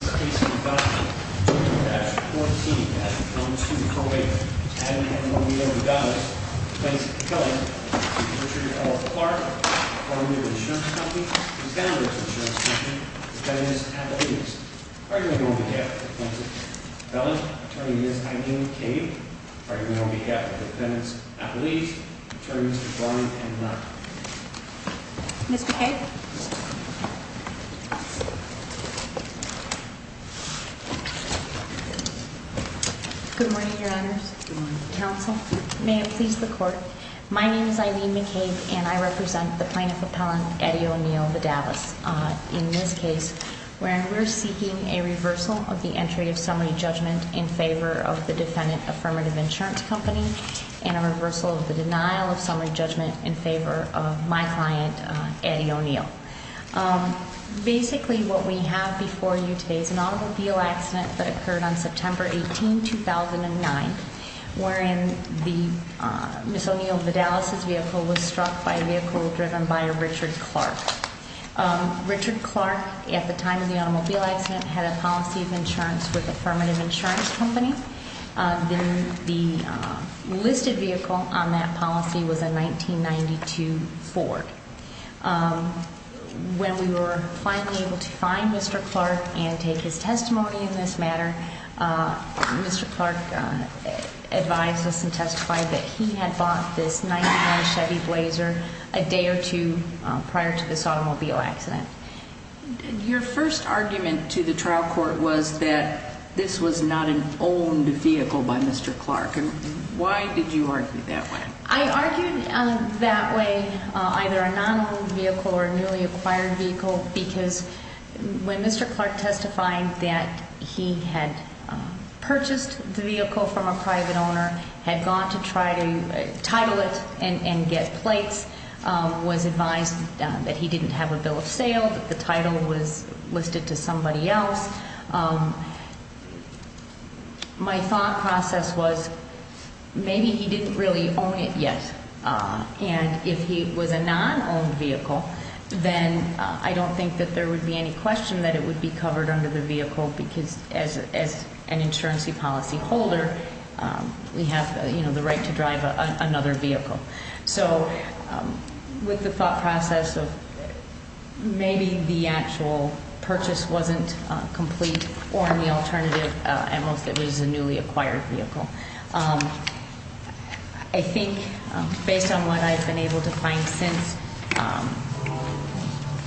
Attorney for the insurance company, defendant of the insurance company, defendants of Appalachians. Argument on behalf of the plaintiff, felon, attorney Ms. Eileen Cave. Argument on behalf of the defendants, Appalachians, attorneys Ron and Ron. Ms. McCabe. Good morning, your honors. Good morning. Counsel, may it please the court. My name is Eileen McCabe and I represent the plaintiff appellant, Addie O'Neal-Vidales. In this case, we're seeking a reversal of the entry of summary judgment in favor of the defendant affirmative insurance company and a reversal of the denial of summary judgment in favor of my client, Addie O'Neal. Basically, what we have before you today is an automobile accident that occurred on September 18, 2009, wherein Ms. O'Neal-Vidales' vehicle was struck by a vehicle driven by a Richard Clark. Richard Clark, at the time of the automobile accident, had a policy of insurance with affirmative insurance company. The listed vehicle on that policy was a 1992 Ford. When we were finally able to find Mr. Clark and take his testimony in this matter, Mr. Clark advised us and testified that he had bought this 1997 Chevy Blazer a day or two prior to this automobile accident. Your first argument to the trial court was that this was not an owned vehicle by Mr. Clark. Why did you argue that way? I argued that way, either a non-owned vehicle or a newly acquired vehicle, because when Mr. Clark testified that he had purchased the vehicle from a private owner, had gone to try to title it and get plates, was advised that he didn't have a bill of sale, that the title was listed to somebody else, my thought process was maybe he didn't really own it yet. And if he was a non-owned vehicle, then I don't think that there would be any question that it would be covered under the vehicle, because as an insurance policy holder, we have the right to drive another vehicle. So with the thought process of maybe the actual purchase wasn't complete, or in the alternative, it was a newly acquired vehicle. I think based on what I've been able to find since,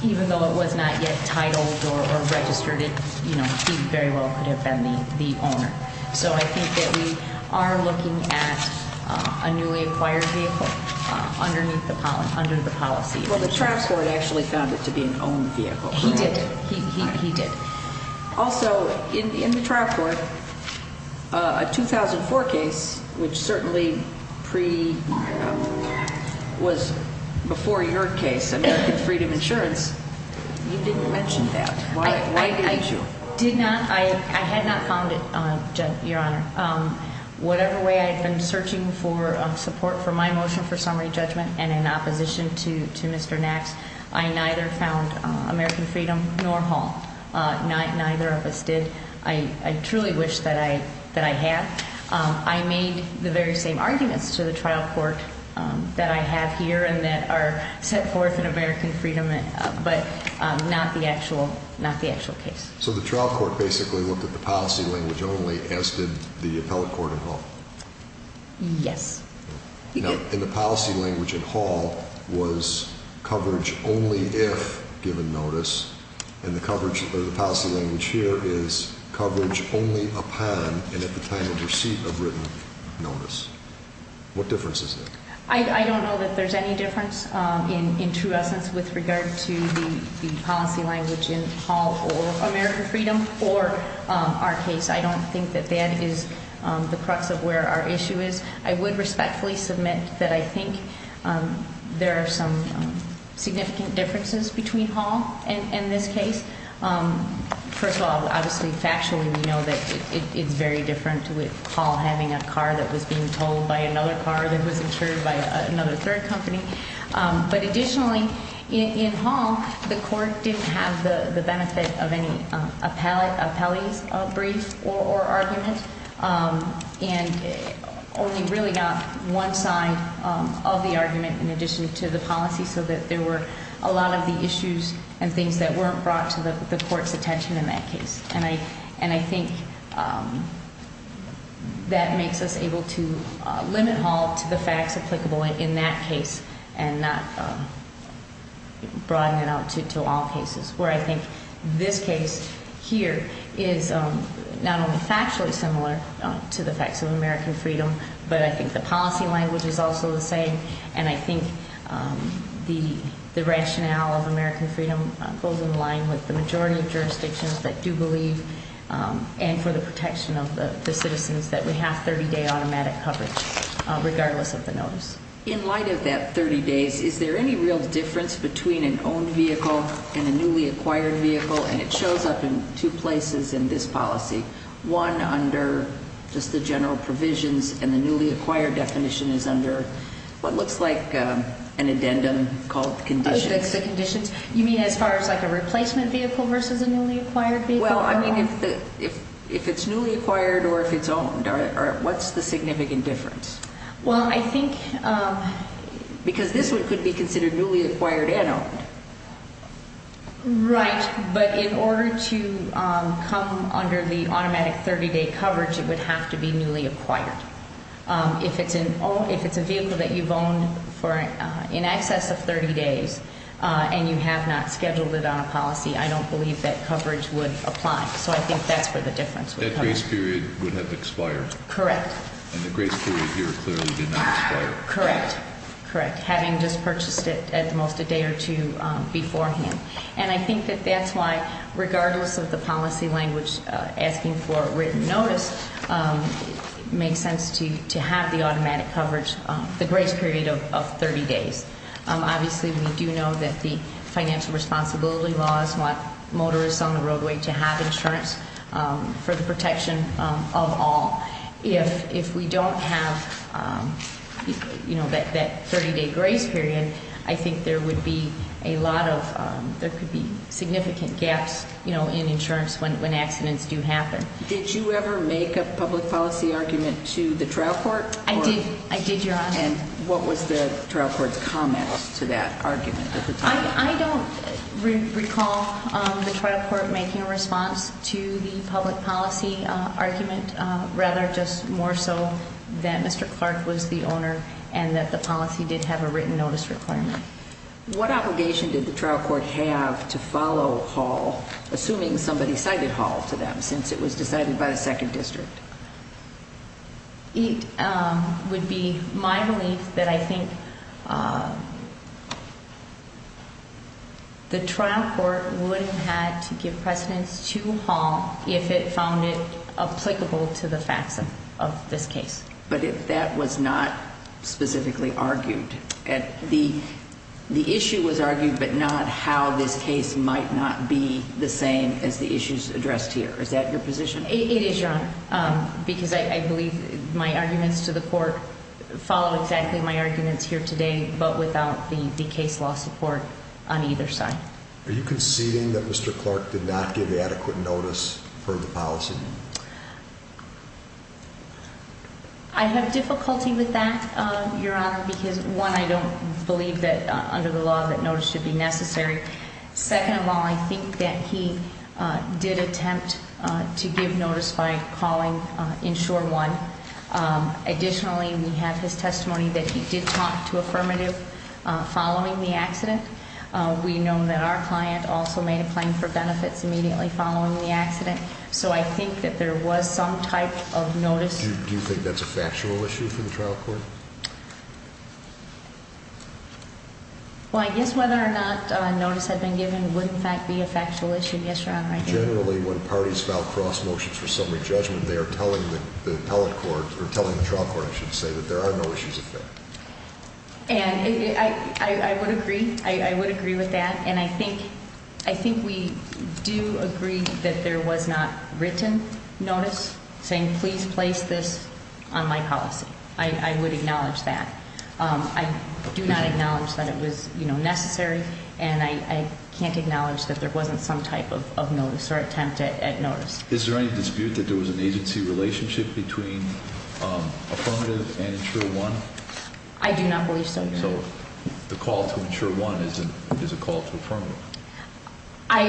even though it was not yet titled or registered, he very well could have been the owner. So I think that we are looking at a newly acquired vehicle under the policy. Well, the trial court actually found it to be an owned vehicle. He did. Also, in the trial court, a 2004 case, which certainly was before your case, American Freedom Insurance, you didn't mention that. Why did you? I did not. I had not found it, Your Honor. Whatever way I had been searching for support for my motion for summary judgment and in opposition to Mr. Nax, I neither found American Freedom nor Hall. Neither of us did. I truly wish that I had. I made the very same arguments to the trial court that I have here and that are set forth in American Freedom, but not the actual case. So the trial court basically looked at the policy language only, as did the appellate court at Hall? Yes. And the policy language at Hall was coverage only if given notice, and the policy language here is coverage only upon and at the time of receipt of written notice. What difference is there? I don't know that there's any difference in true essence with regard to the policy language in Hall or American Freedom or our case. I don't think that that is the crux of where our issue is. I would respectfully submit that I think there are some significant differences between Hall and this case. First of all, obviously, factually, we know that it's very different with Hall having a car that was being towed by another car that was incurred by another third company. But additionally, in Hall, the court didn't have the benefit of any appellee's brief or argument, and only really got one side of the argument in addition to the policy, so that there were a lot of the issues and things that weren't brought to the court's attention in that case. And I think that makes us able to limit Hall to the facts applicable in that case and not broaden it out to all cases, where I think this case here is not only factually similar to the facts of American Freedom, but I think the policy language is also the same, and I think the rationale of American Freedom goes in line with the majority of jurisdictions that do believe, and for the protection of the citizens, that we have 30-day automatic coverage, regardless of the notice. In light of that 30 days, is there any real difference between an owned vehicle and a newly acquired vehicle? And it shows up in two places in this policy, one under just the general provisions, and the newly acquired definition is under what looks like an addendum called conditions. The conditions? You mean as far as like a replacement vehicle versus a newly acquired vehicle? Well, I mean, if it's newly acquired or if it's owned, what's the significant difference? Well, I think because this one could be considered newly acquired and owned. Right, but in order to come under the automatic 30-day coverage, it would have to be newly acquired. If it's a vehicle that you've owned for in excess of 30 days and you have not scheduled it on a policy, I don't believe that coverage would apply, so I think that's where the difference would come. That grace period would have expired. Correct. And the grace period here clearly did not expire. Correct, correct, having just purchased it at most a day or two beforehand. And I think that that's why, regardless of the policy language asking for a written notice, it makes sense to have the automatic coverage, the grace period of 30 days. Obviously, we do know that the financial responsibility laws want motorists on the roadway to have insurance for the protection of all. If we don't have that 30-day grace period, I think there would be a lot of, there could be significant gaps in insurance when accidents do happen. Did you ever make a public policy argument to the trial court? I did, Your Honor. And what was the trial court's comment to that argument? I don't recall the trial court making a response to the public policy argument, rather just more so that Mr. Clark was the owner and that the policy did have a written notice requirement. What obligation did the trial court have to follow Hall, assuming somebody cited Hall to them, since it was decided by the 2nd District? It would be my belief that I think the trial court would have had to give precedence to Hall if it found it applicable to the facts of this case. But that was not specifically argued. The issue was argued, but not how this case might not be the same as the issues addressed here. Is that your position? It is, Your Honor, because I believe my arguments to the court follow exactly my arguments here today, but without the case law support on either side. Are you conceding that Mr. Clark did not give adequate notice for the policy? I have difficulty with that, Your Honor, because, one, I don't believe that under the law that notice should be necessary. Second of all, I think that he did attempt to give notice by calling Insure 1. Additionally, we have his testimony that he did talk to affirmative following the accident. We know that our client also made a claim for benefits immediately following the accident. So I think that there was some type of notice. Do you think that's a factual issue for the trial court? Well, I guess whether or not notice had been given would, in fact, be a factual issue. Yes, Your Honor, I do. Generally, when parties file cross motions for summary judgment, they are telling the appellate court, or telling the trial court, I should say, that there are no issues of fact. And I would agree. I would agree with that. And I think we do agree that there was not written notice saying, please place this on my policy. I would acknowledge that. I do not acknowledge that it was necessary. And I can't acknowledge that there wasn't some type of notice or attempt at notice. Is there any dispute that there was an agency relationship between affirmative and Insure 1? I do not believe so, Your Honor. So the call to Insure 1 is a call to affirmative? I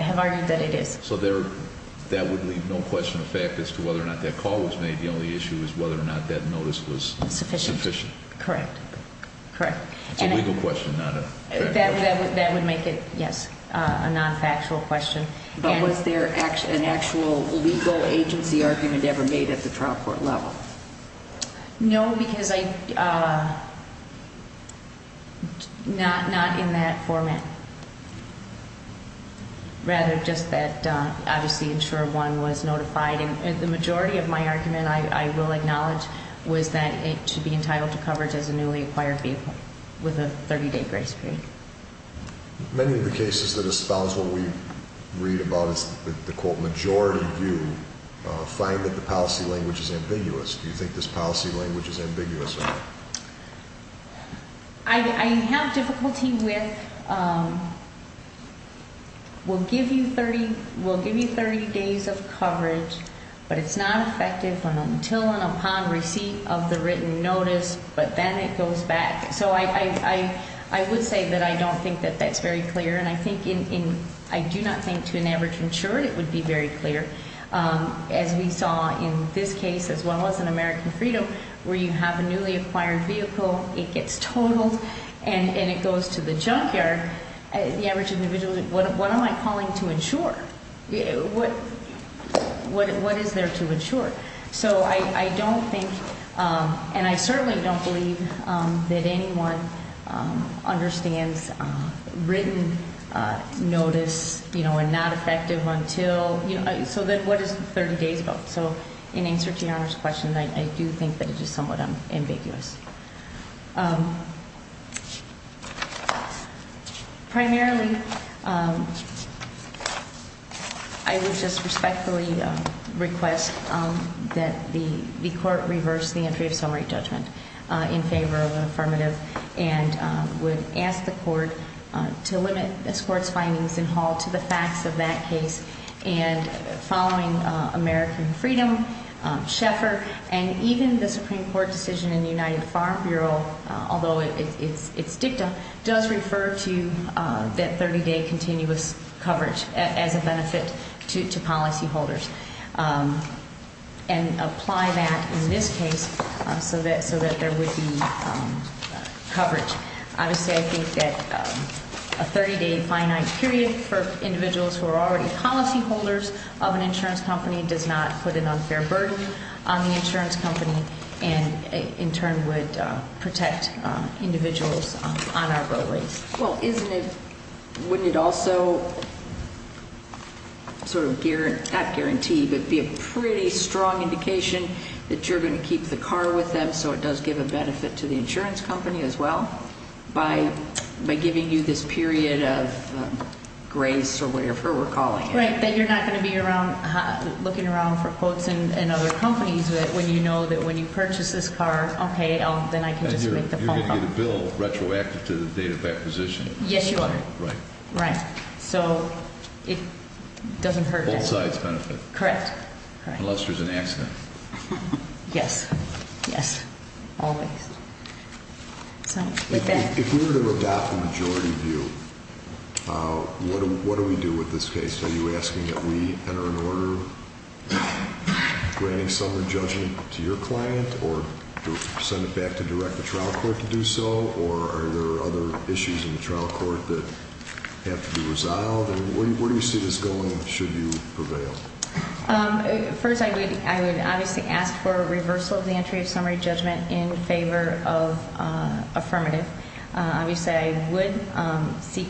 have argued that it is. So that would leave no question of fact as to whether or not that call was made. The only issue is whether or not that notice was sufficient. Correct. Correct. It's a legal question, not a factual question. That would make it, yes, a non-factual question. But was there an actual legal agency argument ever made at the trial court level? No, because not in that format. Rather, just that obviously Insure 1 was notified. And the majority of my argument, I will acknowledge, was that it should be entitled to coverage as a newly acquired vehicle with a 30-day grace period. Many of the cases that espouse what we read about is the, quote, majority view, find that the policy language is ambiguous. Do you think this policy language is ambiguous or not? I have difficulty with we'll give you 30 days of coverage, but it's not effective until and upon receipt of the written notice, but then it goes back. So I would say that I don't think that that's very clear, and I do not think to an average insurer it would be very clear. As we saw in this case as well as in American Freedom, where you have a newly acquired vehicle, it gets totaled, and it goes to the junkyard. The average individual, what am I calling to insure? What is there to insure? So I don't think, and I certainly don't believe, that anyone understands written notice and not effective until. So then what is 30 days about? So in answer to Your Honor's question, I do think that it is somewhat ambiguous. Primarily, I would just respectfully request that the court reverse the entry of summary judgment in favor of an affirmative and would ask the court to limit this court's findings in hall to the facts of that case and following American Freedom, Schaeffer, and even the Supreme Court decision in the United Farm Bureau, although it's dicta, does refer to that 30-day continuous coverage as a benefit to policyholders and apply that in this case so that there would be coverage. Obviously, I think that a 30-day finite period for individuals who are already policyholders of an insurance company does not put an unfair burden on the insurance company and in turn would protect individuals on our roadways. Well, wouldn't it also sort of, not guarantee, but be a pretty strong indication that you're going to keep the car with them so it does give a benefit to the insurance company as well by giving you this period of grace or whatever we're calling it. Right, that you're not going to be looking around for quotes in other companies when you know that when you purchase this car, okay, then I can just make the phone call. You're going to get a bill retroactive to the date of acquisition. Yes, Your Honor. Right. Right. So it doesn't hurt- Both sides benefit. Correct. Unless there's an accident. Yes. Yes. Always. If we were to adopt the majority view, what do we do with this case? Are you asking that we enter an order granting summary judgment to your client or send it back to direct the trial court to do so, or are there other issues in the trial court that have to be resolved? Where do you see this going should you prevail? First, I would obviously ask for a reversal of the entry of summary judgment in favor of affirmative. Obviously, I would seek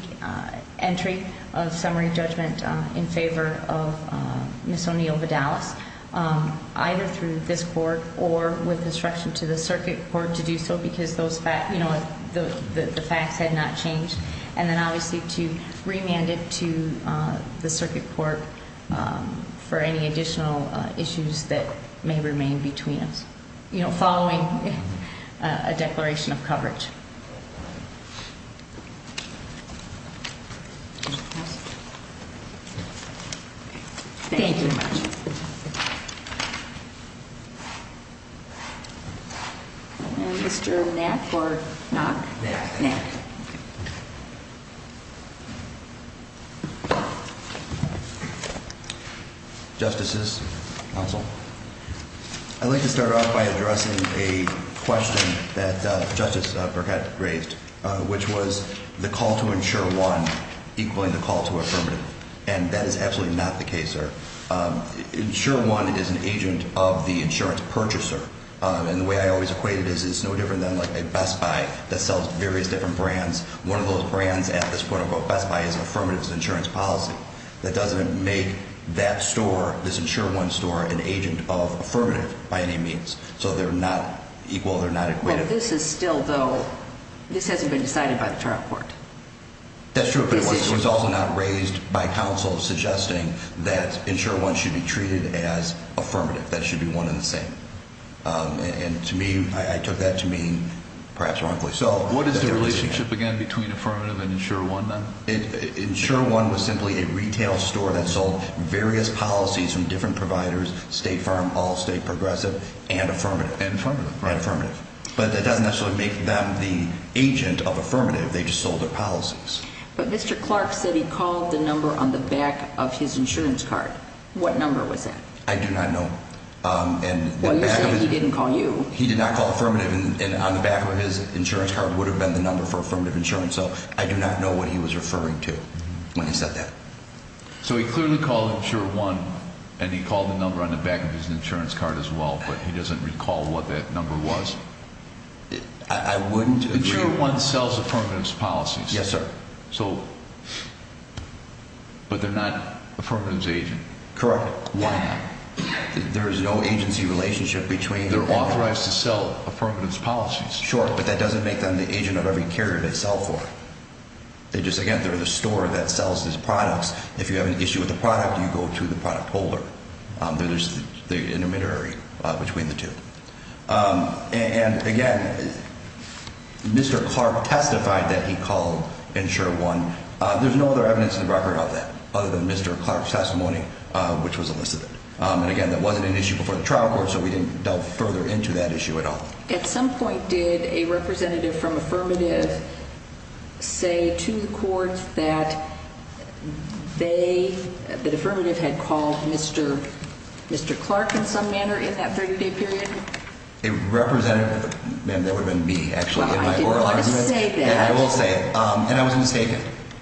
entry of summary judgment in favor of Ms. O'Neill Vidalis, either through this court or with instruction to the circuit court to do so because the facts had not changed, and then obviously to remand it to the circuit court for any additional issues that may remain between us, following a declaration of coverage. Thank you. Thank you very much. Mr. Knack or Knock? Knack. Knack. Justices. Counsel. I'd like to start off by addressing a question that Justice Burkett raised, which was the call to insurer one equaling the call to affirmative, and that is absolutely not the case, sir. Insurer one is an agent of the insurance purchaser, and the way I always equate it is it's no different than, like, a Best Buy that sells various different brands. One of those brands at this point, Best Buy, is an affirmative insurance policy. That doesn't make that store, this insurer one store, an agent of affirmative by any means, so they're not equal, they're not equated. But this is still, though, this hasn't been decided by the trial court. That's true, but it was also not raised by counsel suggesting that insurer one should be treated as affirmative. That should be one and the same. And to me, I took that to mean perhaps wrongfully so. What is the relationship, again, between affirmative and insurer one, then? Insurer one was simply a retail store that sold various policies from different providers, state firm, all-state, progressive, and affirmative. And affirmative. And affirmative. But that doesn't necessarily make them the agent of affirmative. They just sold their policies. But Mr. Clark said he called the number on the back of his insurance card. What number was that? I do not know. Well, you're saying he didn't call you. He did not call affirmative, and on the back of his insurance card would have been the number for affirmative insurance. So I do not know what he was referring to when he said that. So he clearly called insurer one, and he called the number on the back of his insurance card as well, but he doesn't recall what that number was. I wouldn't agree. Insurer one sells affirmative policies. Yes, sir. So, but they're not affirmative as agent. Correct. Insurer one, there is no agency relationship between them. They're authorized to sell affirmative policies. Sure, but that doesn't make them the agent of every carrier they sell for. They just, again, they're the store that sells these products. If you have an issue with the product, you go to the product holder. There's the intermediary between the two. And, again, Mr. Clark testified that he called insurer one. There's no other evidence in the record of that other than Mr. Clark's testimony, which was elicited. And, again, that wasn't an issue before the trial court, so we didn't delve further into that issue at all. At some point, did a representative from affirmative say to the courts that they, that affirmative had called Mr. Clark in some manner in that 30-day period? A representative, ma'am, that would have been me, actually, in my oral argument. I didn't want to say that. I will say it. And I was mistaken.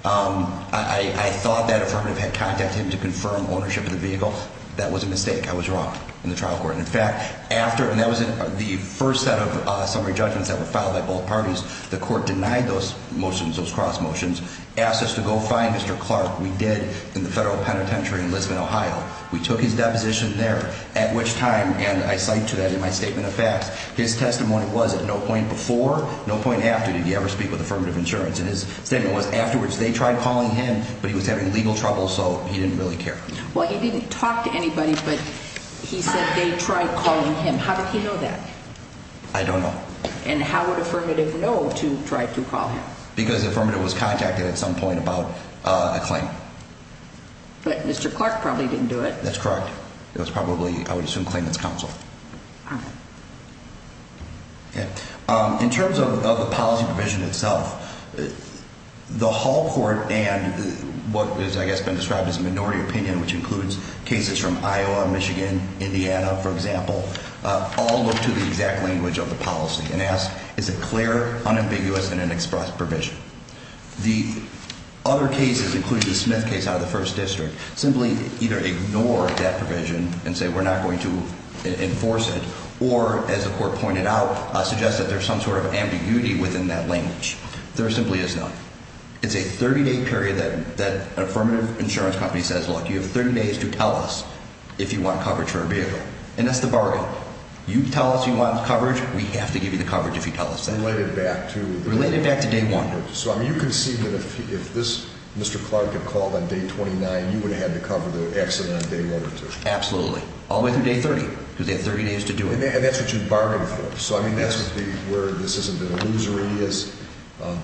I thought that affirmative had contacted him to confirm ownership of the vehicle. That was a mistake. I was wrong in the trial court. In fact, after, and that was the first set of summary judgments that were filed by both parties, the court denied those motions, those cross motions, asked us to go find Mr. Clark. We did in the federal penitentiary in Lisbon, Ohio. We took his deposition there, at which time, and I cite to that in my statement of facts, his testimony was at no point before, no point after, did he ever speak with affirmative insurance. And his statement was, afterwards, they tried calling him, but he was having legal trouble, so he didn't really care. Well, he didn't talk to anybody, but he said they tried calling him. How did he know that? I don't know. And how would affirmative know to try to call him? Because affirmative was contacted at some point about a claim. But Mr. Clark probably didn't do it. That's correct. It was probably, I would assume, claimant's counsel. In terms of the policy provision itself, the Hall Court and what has, I guess, been described as a minority opinion, which includes cases from Iowa, Michigan, Indiana, for example, all look to the exact language of the policy and ask, is it clear, unambiguous, and an express provision? The other cases, including the Smith case out of the 1st District, simply either ignore that provision and say we're not going to enforce it, or, as the Court pointed out, suggest that there's some sort of ambiguity within that language. There simply is not. It's a 30-day period that an affirmative insurance company says, look, you have 30 days to tell us if you want coverage for a vehicle. And that's the bargain. You tell us you want coverage, we have to give you the coverage if you tell us that. Related back to? Related back to day one. Related back to. So, I mean, you can see that if this Mr. Clark had called on day 29, you would have had to cover the accident on day one or two. Absolutely. All the way through day 30, because they have 30 days to do it. And that's what you'd bargain for. So, I mean, that's where this isn't an illusory is.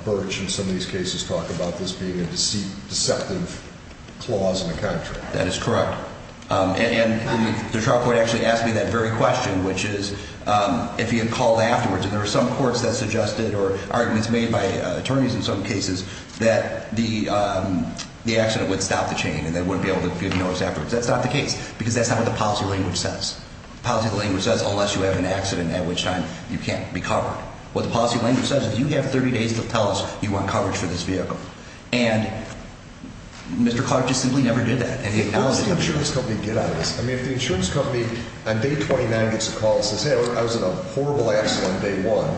Birch, in some of these cases, talked about this being a deceptive clause in the contract. That is correct. And the trial court actually asked me that very question, which is if he had called afterwards, and there are some courts that suggested or arguments made by attorneys in some cases that the accident would stop the chain and they wouldn't be able to give notice afterwards. That's not the case, because that's not what the policy language says. The policy language says unless you have an accident at which time you can't be covered. What the policy language says is you have 30 days to tell us you want coverage for this vehicle. And Mr. Clark just simply never did that. What does the insurance company get out of this? I mean, if the insurance company on day 29 gets a call and says, hey, I was in a horrible accident on day one,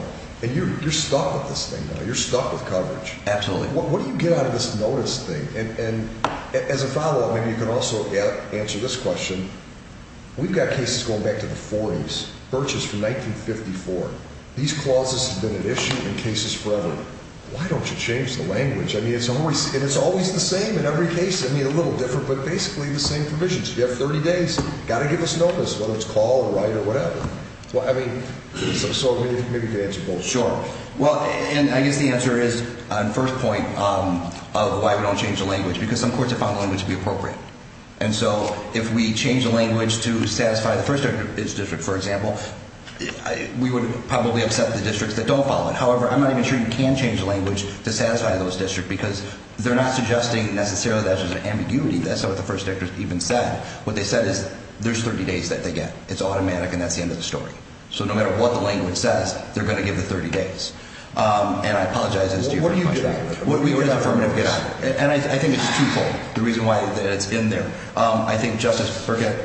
and you're stuck with this thing now, you're stuck with coverage. Absolutely. What do you get out of this notice thing? And as a follow-up, maybe you can also answer this question. We've got cases going back to the 40s. Birch is from 1954. These clauses have been at issue in cases forever. Why don't you change the language? I mean, it's always the same in every case. I mean, a little different, but basically the same provisions. You have 30 days. You've got to give us notice, whether it's call or write or whatever. I mean, so maybe you could answer both. Sure. Well, and I guess the answer is, on first point, of why we don't change the language, because some courts have found the language to be appropriate. And so if we change the language to satisfy the first district, for example, we would probably upset the districts that don't follow it. However, I'm not even sure you can change the language to satisfy those districts, because they're not suggesting necessarily that there's an ambiguity. That's not what the first district even said. What they said is there's 30 days that they get. It's automatic, and that's the end of the story. So no matter what the language says, they're going to give the 30 days. And I apologize. What do you do about it? What is the affirmative get on it? And I think it's twofold, the reason why it's in there. I think Justice Birchett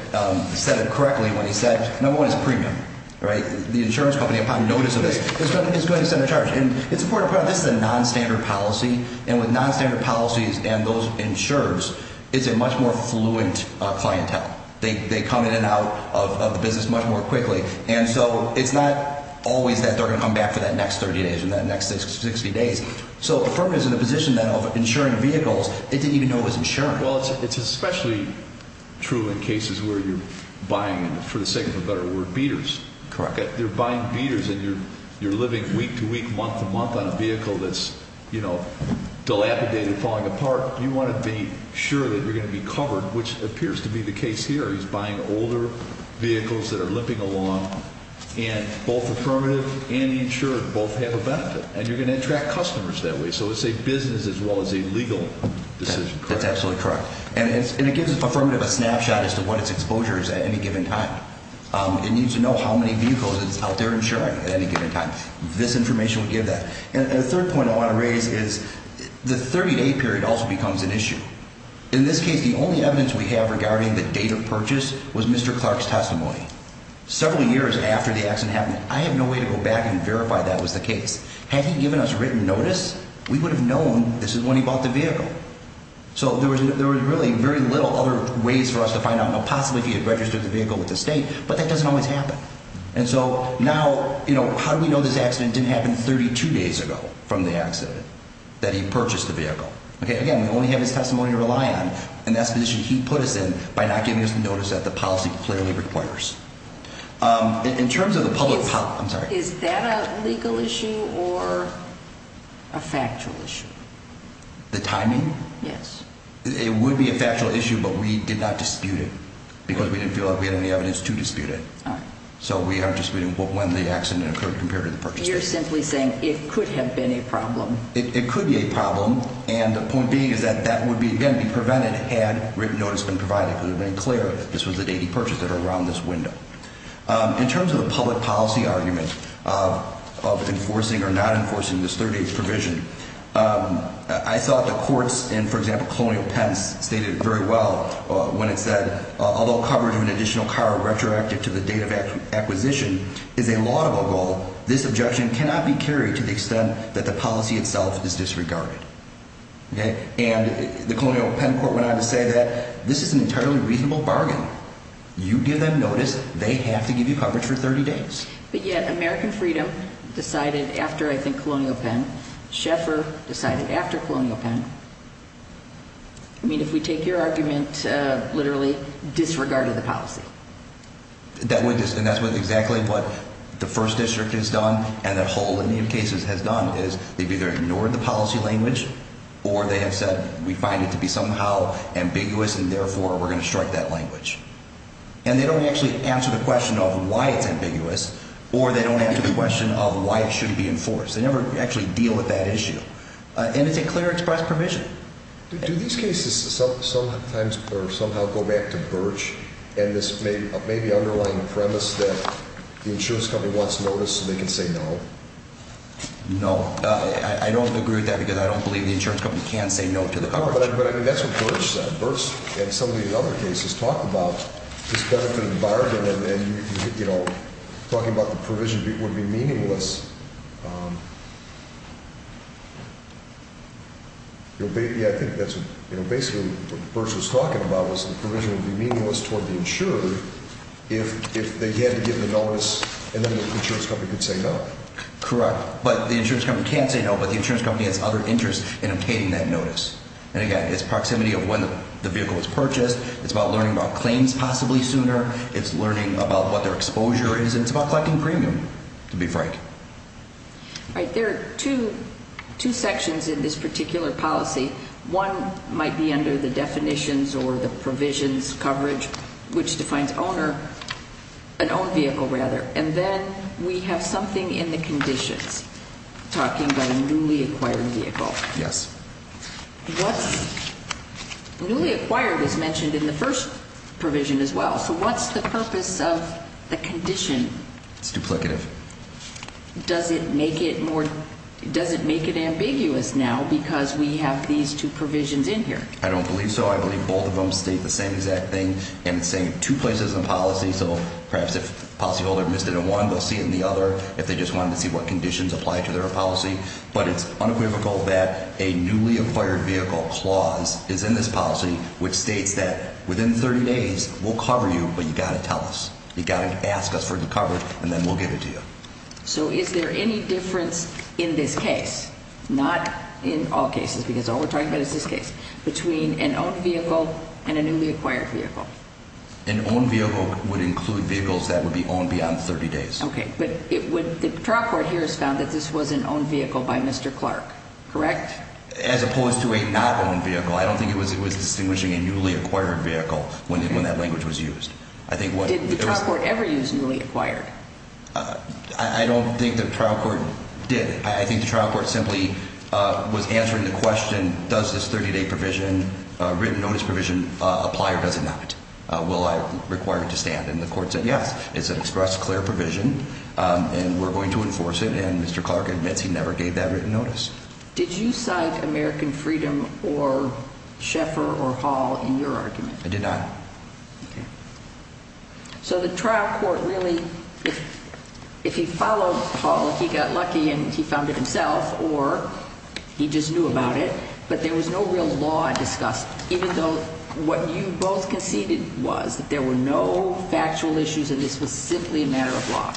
said it correctly when he said, number one, it's premium. The insurance company, upon notice of this, is going to send a charge. And it's important to point out this is a nonstandard policy, and with nonstandard policies and those insurers, it's a much more fluent clientele. They come in and out of the business much more quickly. And so it's not always that they're going to come back for that next 30 days or that next 60 days. So if a firm is in a position now of insuring vehicles, they didn't even know it was insuring. Well, it's especially true in cases where you're buying, for the sake of a better word, beaters. Correct. If you're buying beaters and you're living week to week, month to month on a vehicle that's, you know, dilapidated, falling apart, you want to be sure that you're going to be covered, which appears to be the case here. He's buying older vehicles that are limping along. And both affirmative and the insurer both have a benefit. And you're going to attract customers that way. So it's a business as well as a legal decision. That's absolutely correct. And it gives affirmative a snapshot as to what its exposure is at any given time. It needs to know how many vehicles it's out there insuring at any given time. This information will give that. And the third point I want to raise is the 30-day period also becomes an issue. In this case, the only evidence we have regarding the date of purchase was Mr. Clark's testimony. Several years after the accident happened, I have no way to go back and verify that was the case. Had he given us written notice, we would have known this is when he bought the vehicle. So there was really very little other ways for us to find out. Possibly if he had registered the vehicle with the state, but that doesn't always happen. And so now how do we know this accident didn't happen 32 days ago from the accident that he purchased the vehicle? Again, we only have his testimony to rely on, and that's the position he put us in by not giving us the notice that the policy clearly requires. In terms of the public policy, I'm sorry. Is that a legal issue or a factual issue? The timing? Yes. It would be a factual issue, but we did not dispute it because we didn't feel like we had any evidence to dispute it. All right. So we aren't disputing when the accident occurred compared to the purchase date. You're simply saying it could have been a problem. It could be a problem. And the point being is that that would, again, be prevented had written notice been provided, because it would have been clear that this was the date he purchased it or around this window. In terms of the public policy argument of enforcing or not enforcing this 30-day provision, I thought the courts in, for example, Colonial Pens stated very well when it said, although coverage of an additional car retroactive to the date of acquisition is a laudable goal, this objection cannot be carried to the extent that the policy itself is disregarded. And the Colonial Pen Court went on to say that this is an entirely reasonable bargain. You give them notice, they have to give you coverage for 30 days. But yet American Freedom decided after, I think, Colonial Pen. Schaeffer decided after Colonial Pen. I mean, if we take your argument literally disregarded the policy. And that's exactly what the First District has done and a whole lineage of cases has done is they've either ignored the policy language or they have said we find it to be somehow ambiguous and therefore we're going to strike that language. And they don't actually answer the question of why it's ambiguous or they don't answer the question of why it shouldn't be enforced. They never actually deal with that issue. And it's a clear express provision. Do these cases sometimes or somehow go back to Birch and this maybe underlying premise that the insurance company wants notice so they can say no? No. I don't agree with that because I don't believe the insurance company can say no to the coverage. But that's what Birch said. Birch and some of the other cases talked about this benefit environment and talking about the provision would be meaningless. I think that's basically what Birch was talking about was the provision would be meaningless toward the insurer if they had to give the notice and then the insurance company could say no. Correct. But the insurance company can say no, but the insurance company has other interests in obtaining that notice. And, again, it's proximity of when the vehicle was purchased. It's about learning about claims possibly sooner. It's learning about what their exposure is. And it's about collecting premium, to be frank. All right. There are two sections in this particular policy. One might be under the definitions or the provisions coverage, which defines owner, an owned vehicle, rather. And then we have something in the conditions talking about a newly acquired vehicle. Yes. What's newly acquired was mentioned in the first provision as well. So what's the purpose of the condition? It's duplicative. Does it make it more? Does it make it ambiguous now because we have these two provisions in here? I don't believe so. I believe both of them state the same exact thing. And it's saying two places in policy. So perhaps if the policyholder missed it in one, they'll see it in the other if they just wanted to see what conditions apply to their policy. But it's unequivocal that a newly acquired vehicle clause is in this policy, which states that within 30 days we'll cover you, but you've got to tell us. You've got to ask us for the coverage, and then we'll give it to you. So is there any difference in this case, not in all cases because all we're talking about is this case, between an owned vehicle and a newly acquired vehicle? An owned vehicle would include vehicles that would be owned beyond 30 days. Okay. But the trial court here has found that this was an owned vehicle by Mr. Clark, correct? As opposed to a not owned vehicle. I don't think it was distinguishing a newly acquired vehicle when that language was used. Did the trial court ever use newly acquired? I don't think the trial court did. I think the trial court simply was answering the question, does this 30-day provision, written notice provision, apply or does it not? Will I require it to stand? And the court said, yes, it's an express, clear provision, and we're going to enforce it, and Mr. Clark admits he never gave that written notice. Did you cite American Freedom or Sheffer or Hall in your argument? I did not. Okay. So the trial court really, if he followed Hall, he got lucky and he found it himself, or he just knew about it, but there was no real law discussed, even though what you both conceded was that there were no factual issues and this was simply a matter of law.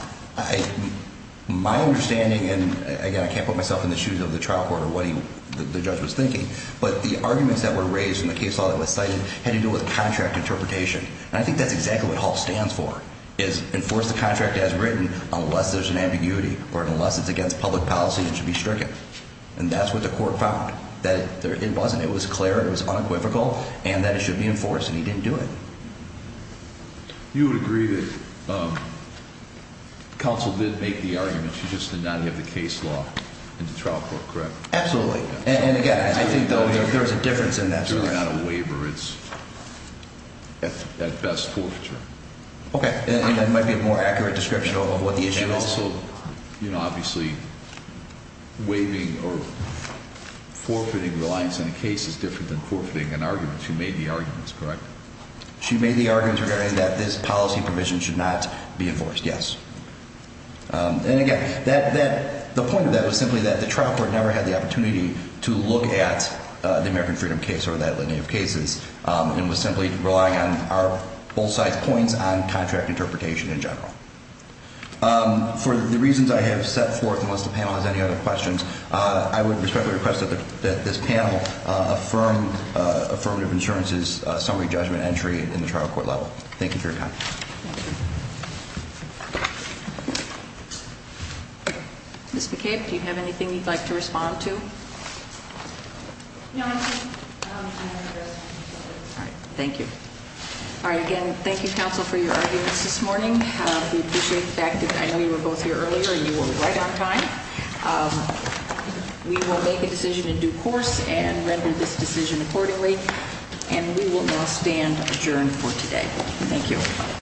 My understanding, and, again, I can't put myself in the shoes of the trial court or what the judge was thinking, but the arguments that were raised in the case law that was cited had to do with contract interpretation, and I think that's exactly what Hall stands for, is enforce the contract as written unless there's an ambiguity or unless it's against public policy and should be stricken. And that's what the court found, that it wasn't. It was clear, it was unequivocal, and that it should be enforced, and he didn't do it. You would agree that counsel did make the argument, she just did not have the case law in the trial court, correct? Absolutely. And, again, I think, though, there is a difference in that. It's really not a waiver, it's at best forfeiture. Okay. It might be a more accurate description of what the issue is. Counsel, you know, obviously, waiving or forfeiting reliance on a case is different than forfeiting an argument. She made the arguments, correct? She made the arguments regarding that this policy provision should not be enforced, yes. And, again, the point of that was simply that the trial court never had the opportunity to look at the American Freedom case or that line of cases and was simply relying on our both sides' points on contract interpretation in general. For the reasons I have set forth, unless the panel has any other questions, I would respectfully request that this panel affirm Affirmative Insurance's summary judgment entry in the trial court level. Thank you for your time. Thank you. Ms. McCabe, do you have anything you'd like to respond to? No, I'm good. All right. Thank you. All right. Again, thank you, counsel, for your arguments this morning. We appreciate the fact that I know you were both here earlier and you were right on time. We will make a decision in due course and render this decision accordingly, and we will now stand adjourned for today. Thank you.